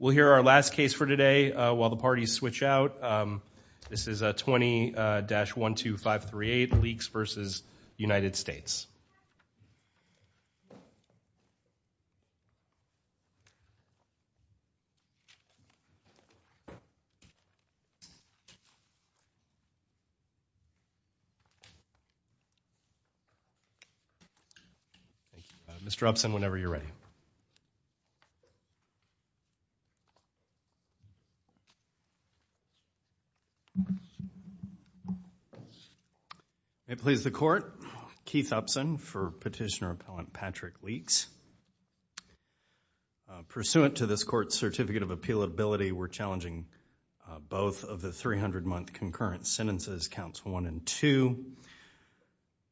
We'll hear our last case for today while the parties switch out. This is a 20-12538 Leaks v. United States. Mr. Upson, whenever you're ready. May it please the Court. Keith Upson for Petitioner Appellant Patrick Leaks. Pursuant to this Court's Certificate of Appealability, we're challenging both of the 300-month concurrent sentences, counts 1 and 2.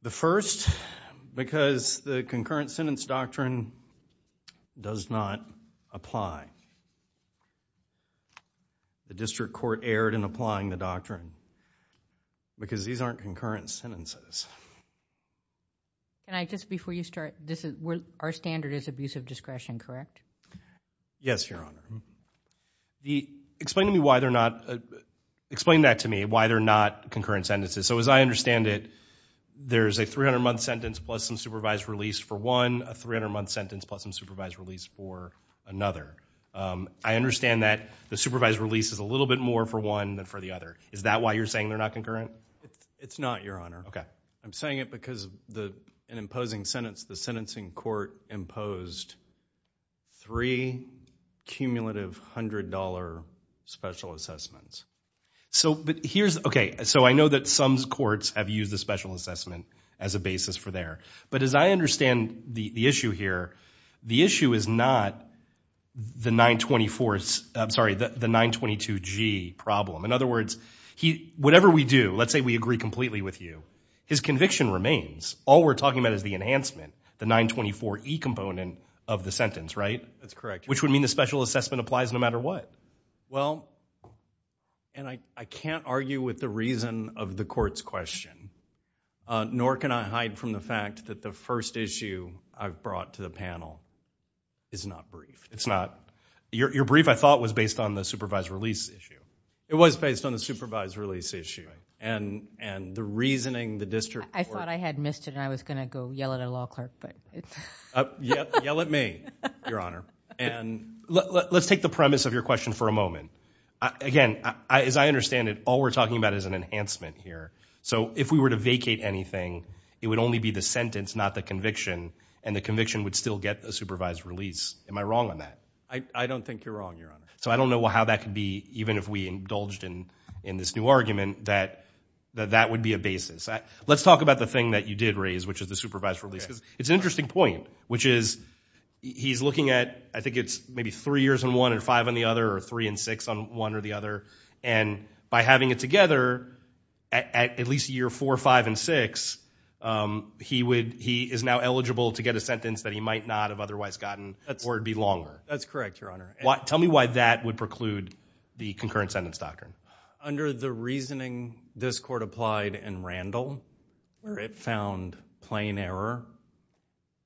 The first, because the concurrent sentence doctrine does not apply. The District Court erred in applying the doctrine because these aren't concurrent sentences. Our standard is abusive discretion, correct? Yes, Your Honor. Explain that to me, why they're not concurrent sentences. So as I understand it, there's a 300-month sentence plus some supervised release for one, a 300-month sentence plus some supervised release for another. I understand that the supervised release is a little bit more for one than for the other. Is that why you're saying they're not concurrent? It's not, Your Honor. I'm saying it because in imposing sentence, the sentencing court imposed three cumulative $100 special assessments. So I know that some courts have used the special assessment as a basis for there. But as I understand the issue here, the issue is not the 924 – I'm sorry, the 922G problem. In other words, whatever we do, let's say we agree completely with you, his conviction remains. All we're talking about is the enhancement, the 924E component of the sentence, right? That's correct. Which would mean the special assessment applies no matter what. Well, and I can't argue with the reason of the court's question, nor can I hide from the fact that the first issue I've brought to the panel is not brief. It's not? Your brief, I thought, was based on the supervised release issue. It was based on the supervised release issue and the reasoning the district court – I thought I had missed it and I was going to go yell at a law clerk. Yell at me, Your Honor. And let's take the premise of your question for a moment. Again, as I understand it, all we're talking about is an enhancement here. So if we were to vacate anything, it would only be the sentence, not the conviction, and the conviction would still get a supervised release. Am I wrong on that? I don't think you're wrong, Your Honor. So I don't know how that could be, even if we indulged in this new argument, that that would be a basis. Let's talk about the thing that you did raise, which is the supervised release. It's an interesting point, which is he's looking at – I think it's maybe three years on one and five on the other or three and six on one or the other. And by having it together, at least year four, five, and six, he is now eligible to get a sentence that he might not have otherwise gotten or it would be longer. That's correct, Your Honor. Tell me why that would preclude the concurrent sentence doctrine. Under the reasoning this court applied in Randall, where it found plain error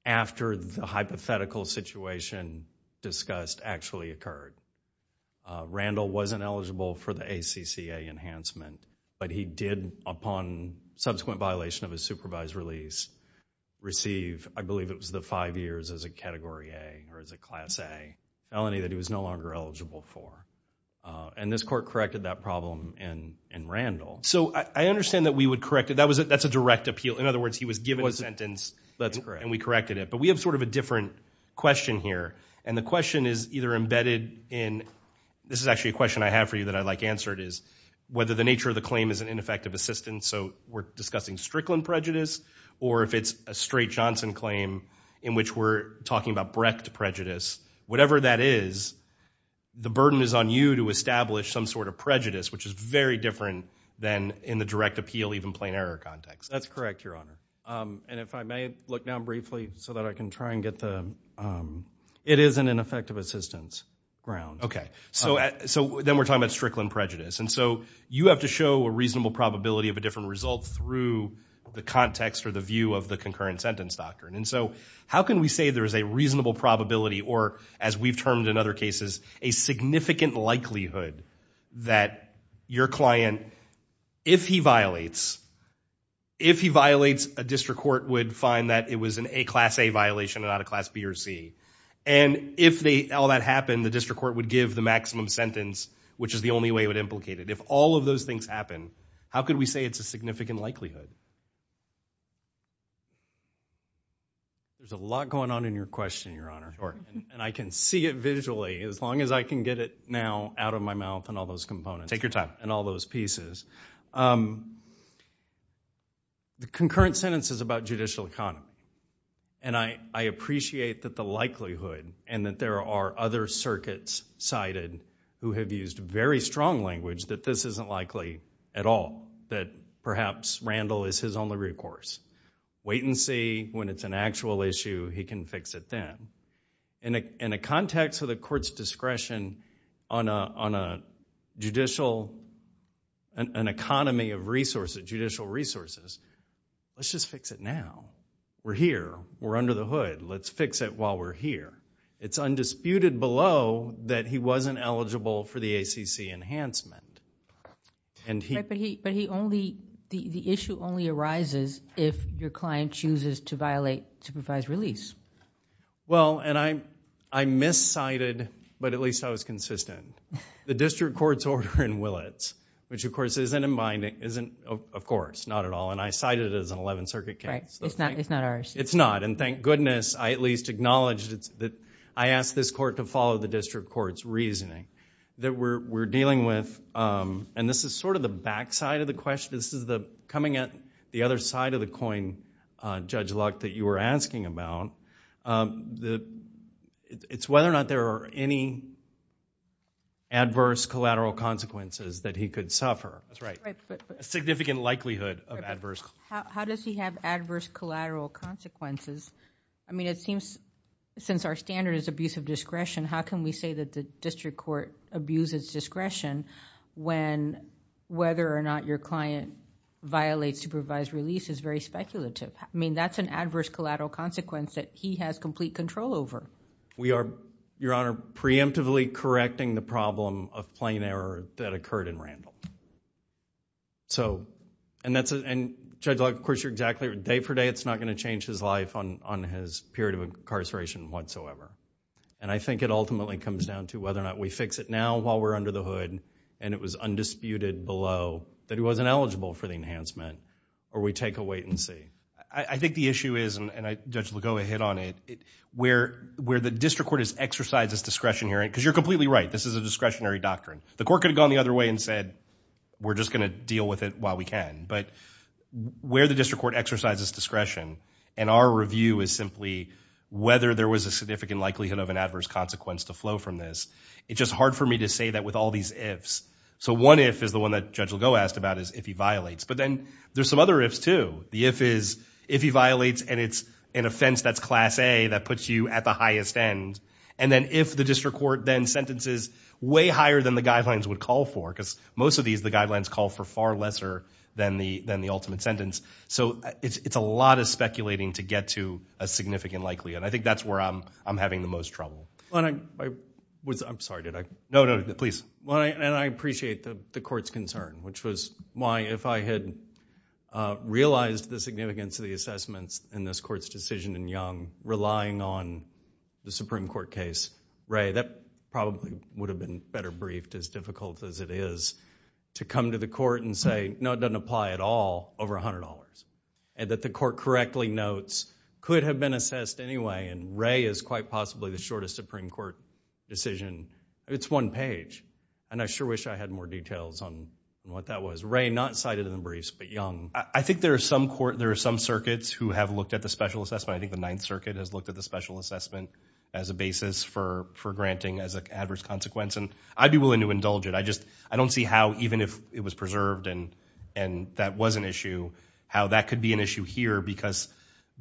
after the hypothetical situation discussed actually occurred. Randall wasn't eligible for the ACCA enhancement, but he did, upon subsequent violation of his supervised release, receive, I believe it was the five years as a Category A or as a Class A. Felony that he was no longer eligible for. And this court corrected that problem in Randall. So I understand that we would correct it. That's a direct appeal. In other words, he was given a sentence and we corrected it. But we have sort of a different question here. And the question is either embedded in – this is actually a question I have for you that I'd like answered is whether the nature of the claim is an ineffective assistance. So we're discussing Strickland prejudice or if it's a straight Johnson claim in which we're talking about Brecht prejudice. Whatever that is, the burden is on you to establish some sort of prejudice, which is very different than in the direct appeal, even plain error context. That's correct, Your Honor. And if I may look down briefly so that I can try and get the – it is an ineffective assistance ground. Okay. So then we're talking about Strickland prejudice. And so you have to show a reasonable probability of a different result through the context or the view of the concurrent sentence doctrine. And so how can we say there is a reasonable probability or, as we've termed in other cases, a significant likelihood that your client, if he violates – if he violates, a district court would find that it was a Class A violation and not a Class B or C. And if all that happened, the district court would give the maximum sentence, which is the only way it would implicate it. If all of those things happen, how could we say it's a significant likelihood? There's a lot going on in your question, Your Honor. And I can see it visually as long as I can get it now out of my mouth and all those components. Take your time. And all those pieces. The concurrent sentence is about judicial economy. And I appreciate that the likelihood and that there are other circuits cited who have used very strong language that this isn't likely at all, that perhaps Randall is his only recourse. Wait and see. When it's an actual issue, he can fix it then. In a context of the court's discretion on a judicial – an economy of resources, judicial resources, let's just fix it now. We're here. We're under the hood. Let's fix it while we're here. It's undisputed below that he wasn't eligible for the ACC enhancement. But he only – the issue only arises if your client chooses to violate supervised release. Well, and I miscited, but at least I was consistent. The district court's order in Willits, which, of course, isn't in my – isn't, of course, not at all. And I cited it as an 11th Circuit case. It's not ours. It's not. And thank goodness I at least acknowledged that I asked this court to follow the district court's reasoning that we're dealing with. And this is sort of the backside of the question. This is the – coming at the other side of the coin, Judge Luck, that you were asking about. It's whether or not there are any adverse collateral consequences that he could suffer. That's right. A significant likelihood of adverse – How does he have adverse collateral consequences? I mean, it seems since our standard is abuse of discretion, how can we say that the district court abuses discretion when whether or not your client violates supervised release is very speculative? I mean, that's an adverse collateral consequence that he has complete control over. We are, Your Honor, preemptively correcting the problem of plain error that occurred in Randall. So – and that's – and, Judge Luck, of course, you're exactly – day for day it's not going to change his life on his period of incarceration whatsoever. And I think it ultimately comes down to whether or not we fix it now while we're under the hood and it was undisputed below that he wasn't eligible for the enhancement or we take a wait and see. I think the issue is, and Judge Lugoa hit on it, where the district court has exercised its discretion here – because you're completely right. This is a discretionary doctrine. The court could have gone the other way and said we're just going to deal with it while we can. But where the district court exercises discretion and our review is simply whether there was a significant likelihood of an adverse consequence to flow from this, it's just hard for me to say that with all these ifs. So one if is the one that Judge Lugoa asked about is if he violates. But then there's some other ifs too. The if is if he violates and it's an offense that's class A that puts you at the highest end. And then if the district court then sentences way higher than the guidelines would call for because most of these the guidelines call for far lesser than the ultimate sentence. So it's a lot of speculating to get to a significant likelihood. I think that's where I'm having the most trouble. I'm sorry. No, no, please. And I appreciate the court's concern, which was why if I had realized the significance of the assessments in this court's decision in Young, to come to the court and say, no, it doesn't apply at all over $100. And that the court correctly notes could have been assessed anyway and Ray is quite possibly the shortest Supreme Court decision. It's one page. And I sure wish I had more details on what that was. Ray, not cited in the briefs, but Young. I think there are some circuits who have looked at the special assessment. I think the Ninth Circuit has looked at the special assessment as a basis for granting as an adverse consequence. And I'd be willing to indulge it. I just don't see how even if it was preserved and that was an issue, how that could be an issue here. Because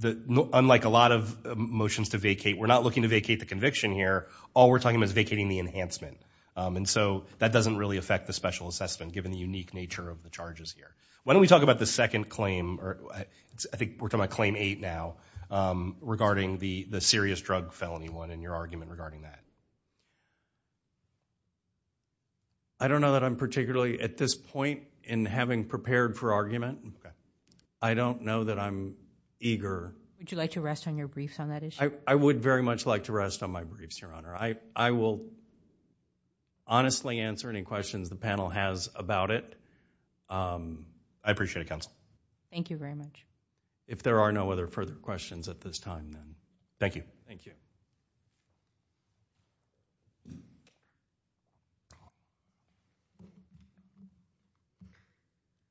unlike a lot of motions to vacate, we're not looking to vacate the conviction here. All we're talking about is vacating the enhancement. And so that doesn't really affect the special assessment given the unique nature of the charges here. Why don't we talk about the second claim, or I think we're talking about Claim 8 now, regarding the serious drug felony one and your argument regarding that. I don't know that I'm particularly at this point in having prepared for argument. I don't know that I'm eager. Would you like to rest on your briefs on that issue? I will honestly answer any questions the panel has about it. I appreciate it, counsel. Thank you very much. If there are no other further questions at this time, then thank you. Thank you.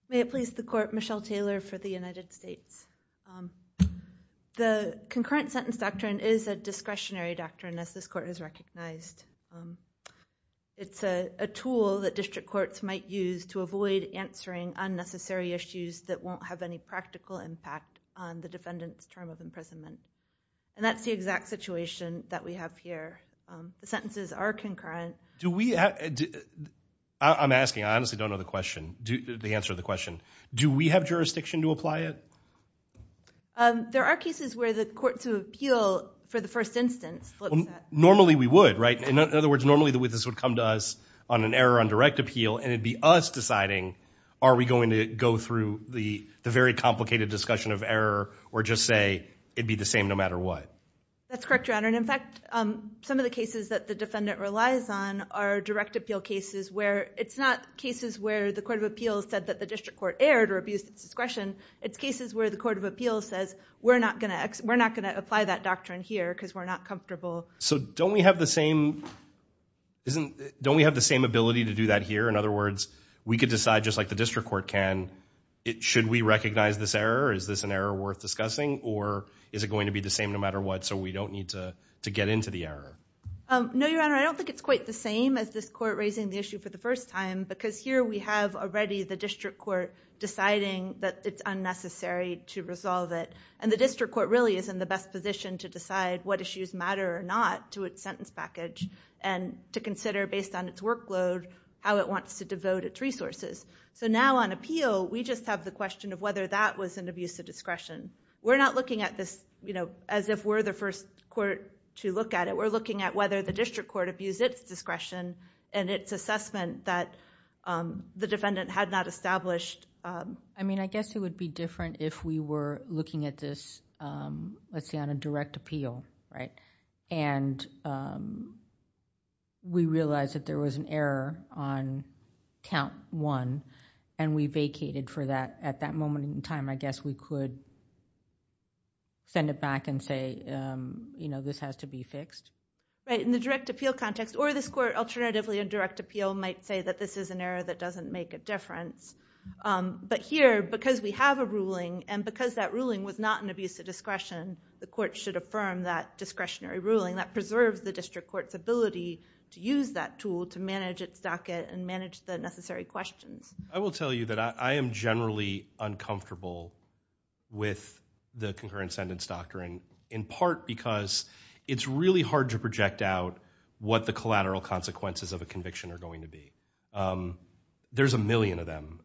May it please the Court, Michelle Taylor for the United States. The concurrent sentence doctrine is a discretionary doctrine, as this Court has recognized. It's a tool that district courts might use to avoid answering unnecessary issues that won't have any practical impact on the defendant's term of imprisonment. And that's the exact situation that we have here. The sentences are concurrent. I'm asking, I honestly don't know the answer to the question. Do we have jurisdiction to apply it? There are cases where the courts of appeal, for the first instance, look at that. Normally we would, right? In other words, normally this would come to us on an error on direct appeal, and it would be us deciding are we going to go through the very complicated discussion of error or just say it would be the same no matter what. That's correct, Your Honor. In fact, some of the cases that the defendant relies on are direct appeal cases where it's not cases where the court of appeals said that the district court erred or abused its discretion. It's cases where the court of appeals says we're not going to apply that doctrine here because we're not comfortable. So don't we have the same ability to do that here? In other words, we could decide just like the district court can, should we recognize this error? Is this an error worth discussing, or is it going to be the same no matter what so we don't need to get into the error? No, Your Honor. I don't think it's quite the same as this court raising the issue for the first time because here we have already the district court deciding that it's unnecessary to resolve it, and the district court really is in the best position to decide what issues matter or not to its sentence package and to consider based on its workload how it wants to devote its resources. So now on appeal, we just have the question of whether that was an abuse of discretion. We're not looking at this as if we're the first court to look at it. We're looking at whether the district court abused its discretion and its assessment that the defendant had not established... I mean, I guess it would be different if we were looking at this, let's see, on a direct appeal, right? And we realize that there was an error on count one and we vacated for that. At that moment in time, I guess we could send it back and say, you know, this has to be fixed. Right. In the direct appeal context or this court alternatively in direct appeal might say that this is an error that doesn't make a difference. But here, because we have a ruling and because that ruling was not an abuse of discretion, the court should affirm that discretionary ruling that preserves the district court's ability to use that tool to manage its docket and manage the necessary questions. I will tell you that I am generally uncomfortable with the concurrent sentence doctrine, in part because it's really hard to project out what the collateral consequences of a conviction are going to be. There's a million of them.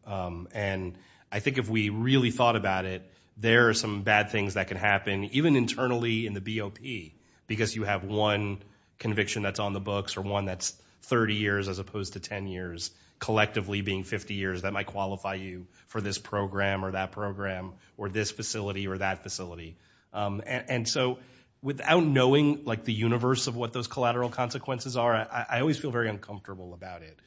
And I think if we really thought about it, there are some bad things that can happen, even internally in the BOP, because you have one conviction that's on the books or one that's 30 years as opposed to 10 years, collectively being 50 years, that might qualify you for this program or that program or this facility or that facility. And so without knowing, like, the universe of what those collateral consequences are, I always feel very uncomfortable about it.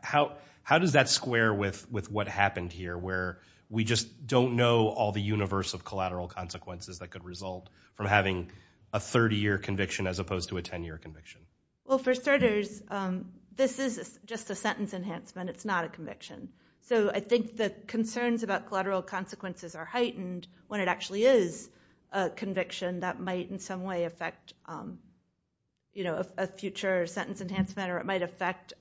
How does that square with what happened here, where we just don't know all the universe of collateral consequences that could result from having a 30-year conviction as opposed to a 10-year conviction? Well, for starters, this is just a sentence enhancement. It's not a conviction. So I think the concerns about collateral consequences are heightened when it actually is a conviction that might in some way affect a future sentence enhancement or it might affect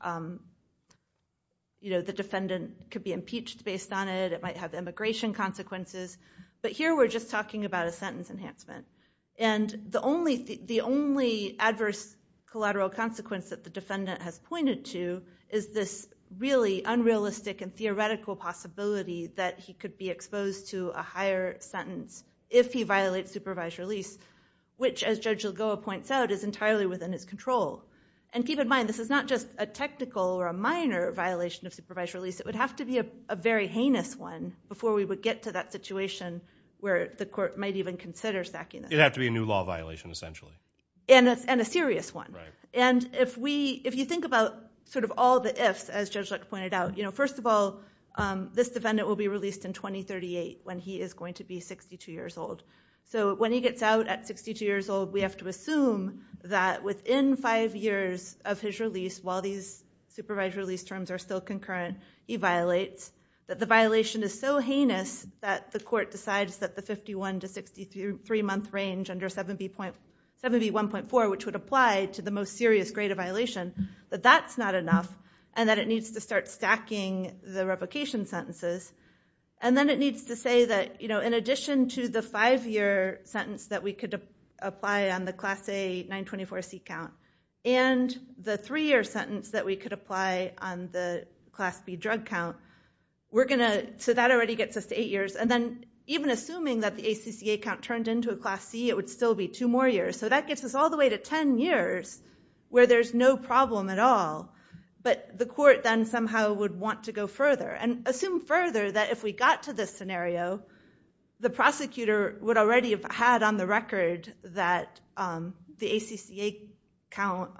the defendant could be impeached based on it. It might have immigration consequences. But here we're just talking about a sentence enhancement. And the only adverse collateral consequence that the defendant has pointed to is this really unrealistic and theoretical possibility that he could be exposed to a higher sentence if he violates supervised release, which, as Judge Lagoa points out, is entirely within his control. And keep in mind, this is not just a technical or a minor violation of supervised release. It would have to be a very heinous one before we would get to that situation where the court might even consider stacking this. It would have to be a new law violation, essentially. And a serious one. And if you think about sort of all the ifs, as Judge Lacoa pointed out, first of all, this defendant will be released in 2038 when he is going to be 62 years old. So when he gets out at 62 years old, we have to assume that within five years of his release, while these supervised release terms are still concurrent, he violates, that the violation is so heinous that the court decides that the 51 to 63-month range under 7B1.4, which would apply to the most serious grade of violation, that that's not enough and that it needs to start stacking the replication sentences. And then it needs to say that in addition to the five-year sentence that we could apply on the Class A 924C count and the three-year sentence that we could apply on the Class B drug count, we're going to, so that already gets us to eight years. And then even assuming that the ACCA count turned into a Class C, it would still be two more years. So that gets us all the way to ten years where there's no problem at all. But the court then somehow would want to go further and assume further that if we got to this scenario, the prosecutor would already have had on the record that the ACCA count,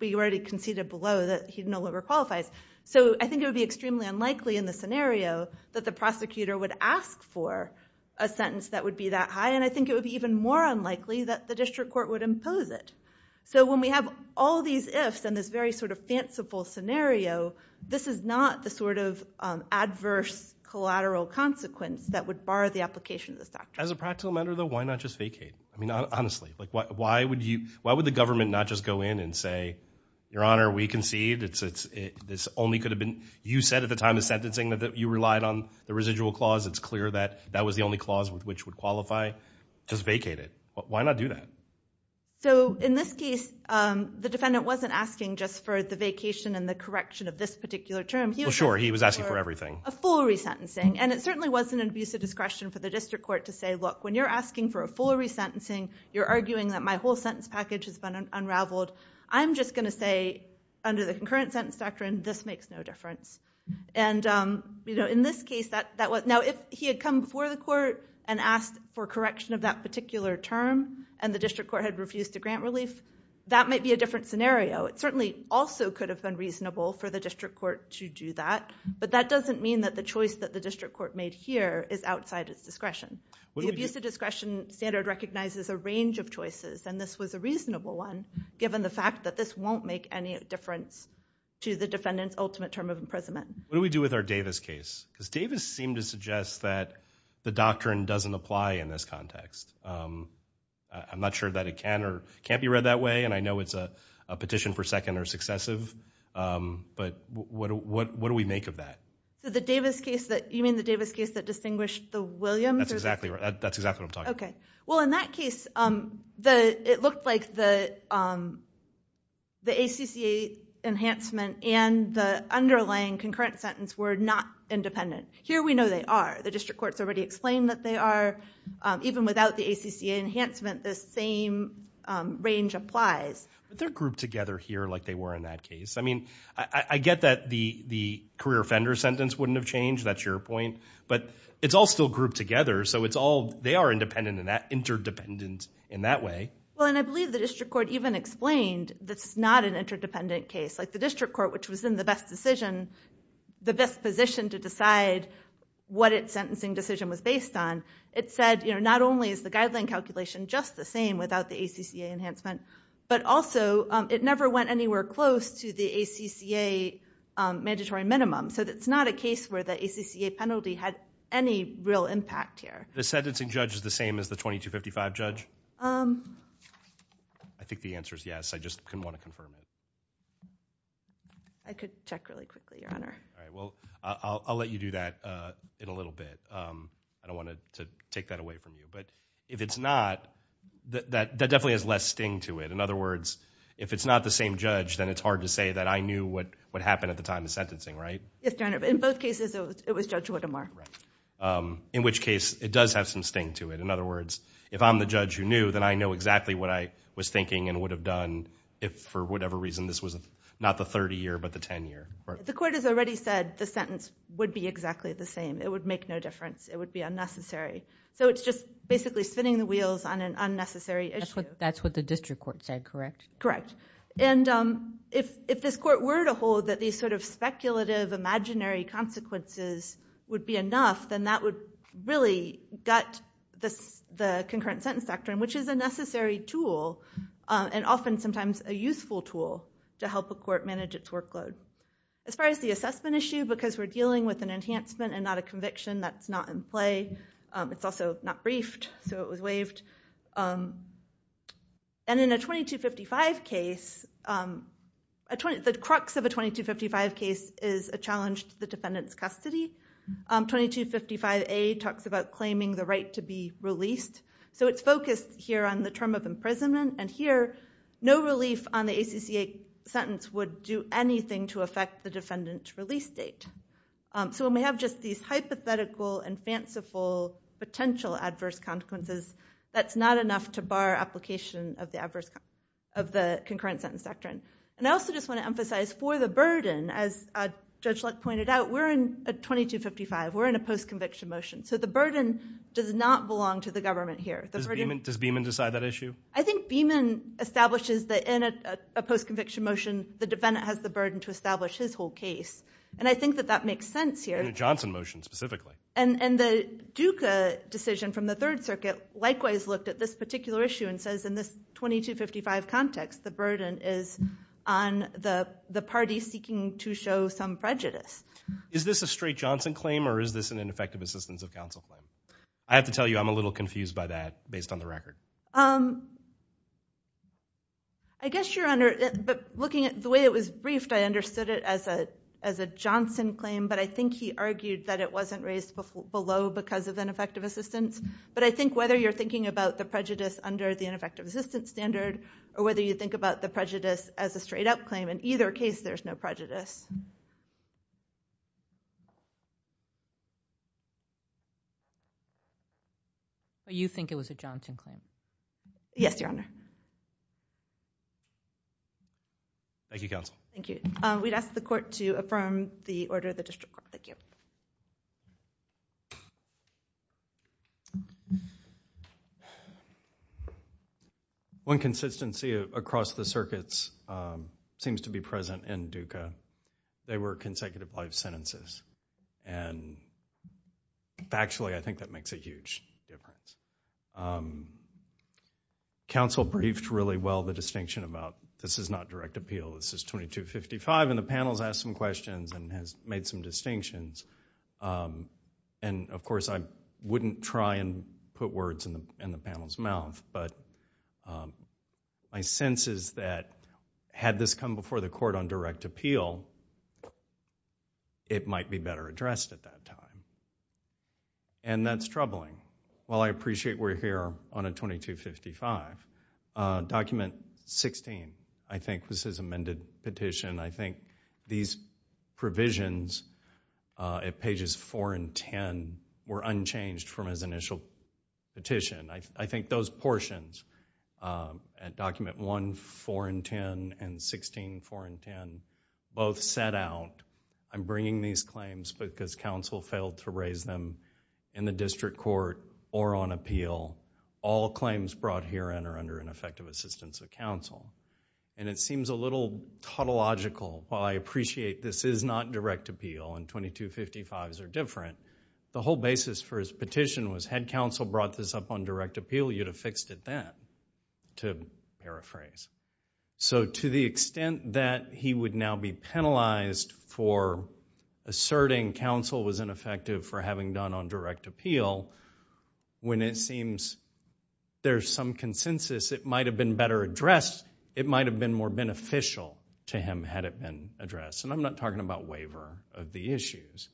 we already conceded below that he no longer qualifies. So I think it would be extremely unlikely in the scenario that the prosecutor would ask for a sentence that would be that high. And I think it would be even more unlikely that the district court would impose it. So when we have all these ifs and this very sort of fanciful scenario, this is not the sort of adverse collateral consequence that would bar the application of this doctrine. As a practical matter, though, why not just vacate? I mean, honestly, why would the government not just go in and say, Your Honor, we concede. This only could have been, you said at the time of sentencing that you relied on the residual clause. It's clear that that was the only clause which would qualify. Just vacate it. Why not do that? So in this case, the defendant wasn't asking just for the vacation and the correction of this particular term. Sure, he was asking for everything. A full resentencing. And it certainly wasn't an abuse of discretion for the district court to say, Look, when you're asking for a full resentencing, you're arguing that my whole sentence package has been unraveled. I'm just going to say under the concurrent sentence doctrine, this makes no difference. And, you know, in this case, that was. Now, if he had come before the court and asked for correction of that particular term, and the district court had refused to grant relief, that might be a different scenario. It certainly also could have been reasonable for the district court to do that. But that doesn't mean that the choice that the district court made here is outside its discretion. The abuse of discretion standard recognizes a range of choices, and this was a reasonable one, given the fact that this won't make any difference to the defendant's ultimate term of imprisonment. What do we do with our Davis case? Because Davis seemed to suggest that the doctrine doesn't apply in this context. I'm not sure that it can or can't be read that way, and I know it's a petition for second or successive. But what do we make of that? So the Davis case, you mean the Davis case that distinguished the Williams? That's exactly what I'm talking about. Okay. Well, in that case, it looked like the ACCA enhancement and the underlying concurrent sentence were not independent. Here we know they are. The district court's already explained that they are. Even without the ACCA enhancement, the same range applies. But they're grouped together here like they were in that case. I mean, I get that the career offender sentence wouldn't have changed. That's your point. But it's all still grouped together, so they are independent and interdependent in that way. Well, and I believe the district court even explained that's not an interdependent case. Like the district court, which was in the best decision, the best position to decide what its sentencing decision was based on, it said not only is the guideline calculation just the same without the ACCA enhancement, but also it never went anywhere close to the ACCA mandatory minimum. So it's not a case where the ACCA penalty had any real impact here. The sentencing judge is the same as the 2255 judge? I think the answer is yes. I just didn't want to confirm it. I could check really quickly, Your Honor. All right. Well, I'll let you do that in a little bit. I don't want to take that away from you. But if it's not, that definitely has less sting to it. In other words, if it's not the same judge, then it's hard to say that I knew what happened at the time of sentencing, right? Yes, Your Honor. In both cases, it was Judge Whittemore. In which case, it does have some sting to it. In other words, if I'm the judge who knew, then I know exactly what I was thinking and would have done if for whatever reason this was not the 30-year but the 10-year. The court has already said the sentence would be exactly the same. It would make no difference. It would be unnecessary. So it's just basically spinning the wheels on an unnecessary issue. That's what the district court said, correct? Correct. And if this court were to hold that these sort of speculative imaginary consequences would be enough, then that would really gut the concurrent sentence doctrine, which is a necessary tool and often sometimes a useful tool to help a court manage its workload. As far as the assessment issue, because we're dealing with an enhancement and not a conviction, that's not in play. It's also not briefed, so it was waived. And in a 2255 case, the crux of a 2255 case is a challenge to the defendant's custody. 2255A talks about claiming the right to be released. So it's focused here on the term of imprisonment. And here, no relief on the ACCA sentence would do anything to affect the defendant's release date. So when we have just these hypothetical and fanciful potential adverse consequences, that's not enough to bar application of the concurrent sentence doctrine. And I also just want to emphasize for the burden, as Judge Luck pointed out, we're in a 2255. We're in a post-conviction motion. So the burden does not belong to the government here. Does Beeman decide that issue? I think Beeman establishes that in a post-conviction motion, the defendant has the burden to establish his whole case. And I think that that makes sense here. In a Johnson motion specifically. And the Duca decision from the Third Circuit likewise looked at this particular issue and says in this 2255 context, the burden is on the party seeking to show some prejudice. Is this a straight Johnson claim or is this an ineffective assistance of counsel claim? I have to tell you I'm a little confused by that based on the record. I guess you're under – but looking at the way it was briefed, I understood it as a Johnson claim, but I think he argued that it wasn't raised below because of ineffective assistance. But I think whether you're thinking about the prejudice under the ineffective assistance standard or whether you think about the prejudice as a straight up claim, in either case there's no prejudice. You think it was a Johnson claim? Yes, Your Honor. Thank you, counsel. Thank you. We'd ask the court to affirm the order of the district court. Thank you. One consistency across the circuits seems to be present in Duca. They were consecutive life sentences. And factually I think that makes a huge difference. Counsel briefed really well the distinction about this is not direct appeal. This is 2255 and the panel has asked some questions and has made some distinctions. And, of course, I wouldn't try and put words in the panel's mouth, but my sense is that had this come before the court on direct appeal, it might be better addressed at that time. And that's troubling. While I appreciate we're here on a 2255, document 16, I think, was his amended petition. I think these provisions at pages 4 and 10 were unchanged from his initial petition. I think those portions at document 1, 4 and 10, and 16, 4 and 10, both set out, I'm bringing these claims because counsel failed to raise them in the district court or on appeal. All claims brought herein are under ineffective assistance of counsel. And it seems a little tautological. While I appreciate this is not direct appeal and 2255s are different, the whole basis for his petition was had counsel brought this up on direct appeal, you'd have fixed it then, to paraphrase. So to the extent that he would now be penalized for asserting counsel was ineffective for having done on direct appeal, when it seems there's some consensus it might have been better addressed, it might have been more beneficial to him had it been addressed. And I'm not talking about waiver of the issues.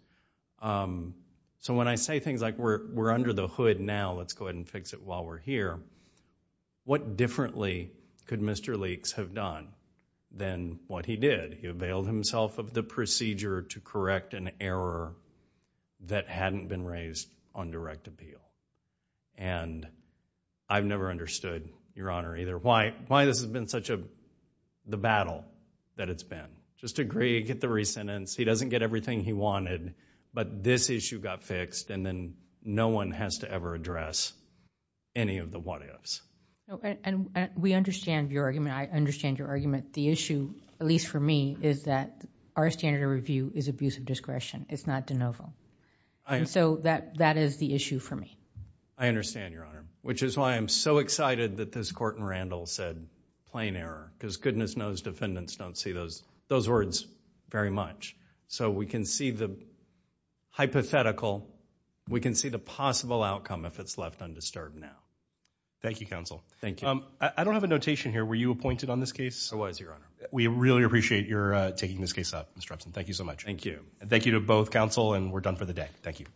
So when I say things like we're under the hood now, let's go ahead and fix it while we're here, what differently could Mr. Leeks have done than what he did? He availed himself of the procedure to correct an error that hadn't been raised on direct appeal. And I've never understood, Your Honor, either why this has been such a battle that it's been. Just agree, get the re-sentence, he doesn't get everything he wanted, but this issue got fixed and then no one has to ever address any of the what-ifs. And we understand your argument, I understand your argument. The issue, at least for me, is that our standard of review is abuse of discretion, it's not de novo. So that is the issue for me. I understand, Your Honor, which is why I'm so excited that this Court in Randall said plain error, because goodness knows defendants don't see those words very much. So we can see the hypothetical, we can see the possible outcome if it's left undisturbed now. Thank you, Counsel. Thank you. I don't have a notation here, were you appointed on this case? I was, Your Honor. We really appreciate your taking this case up, Mr. Epson. Thank you so much. Thank you. Thank you to both Counsel, and we're done for the day. Thank you. Thank you.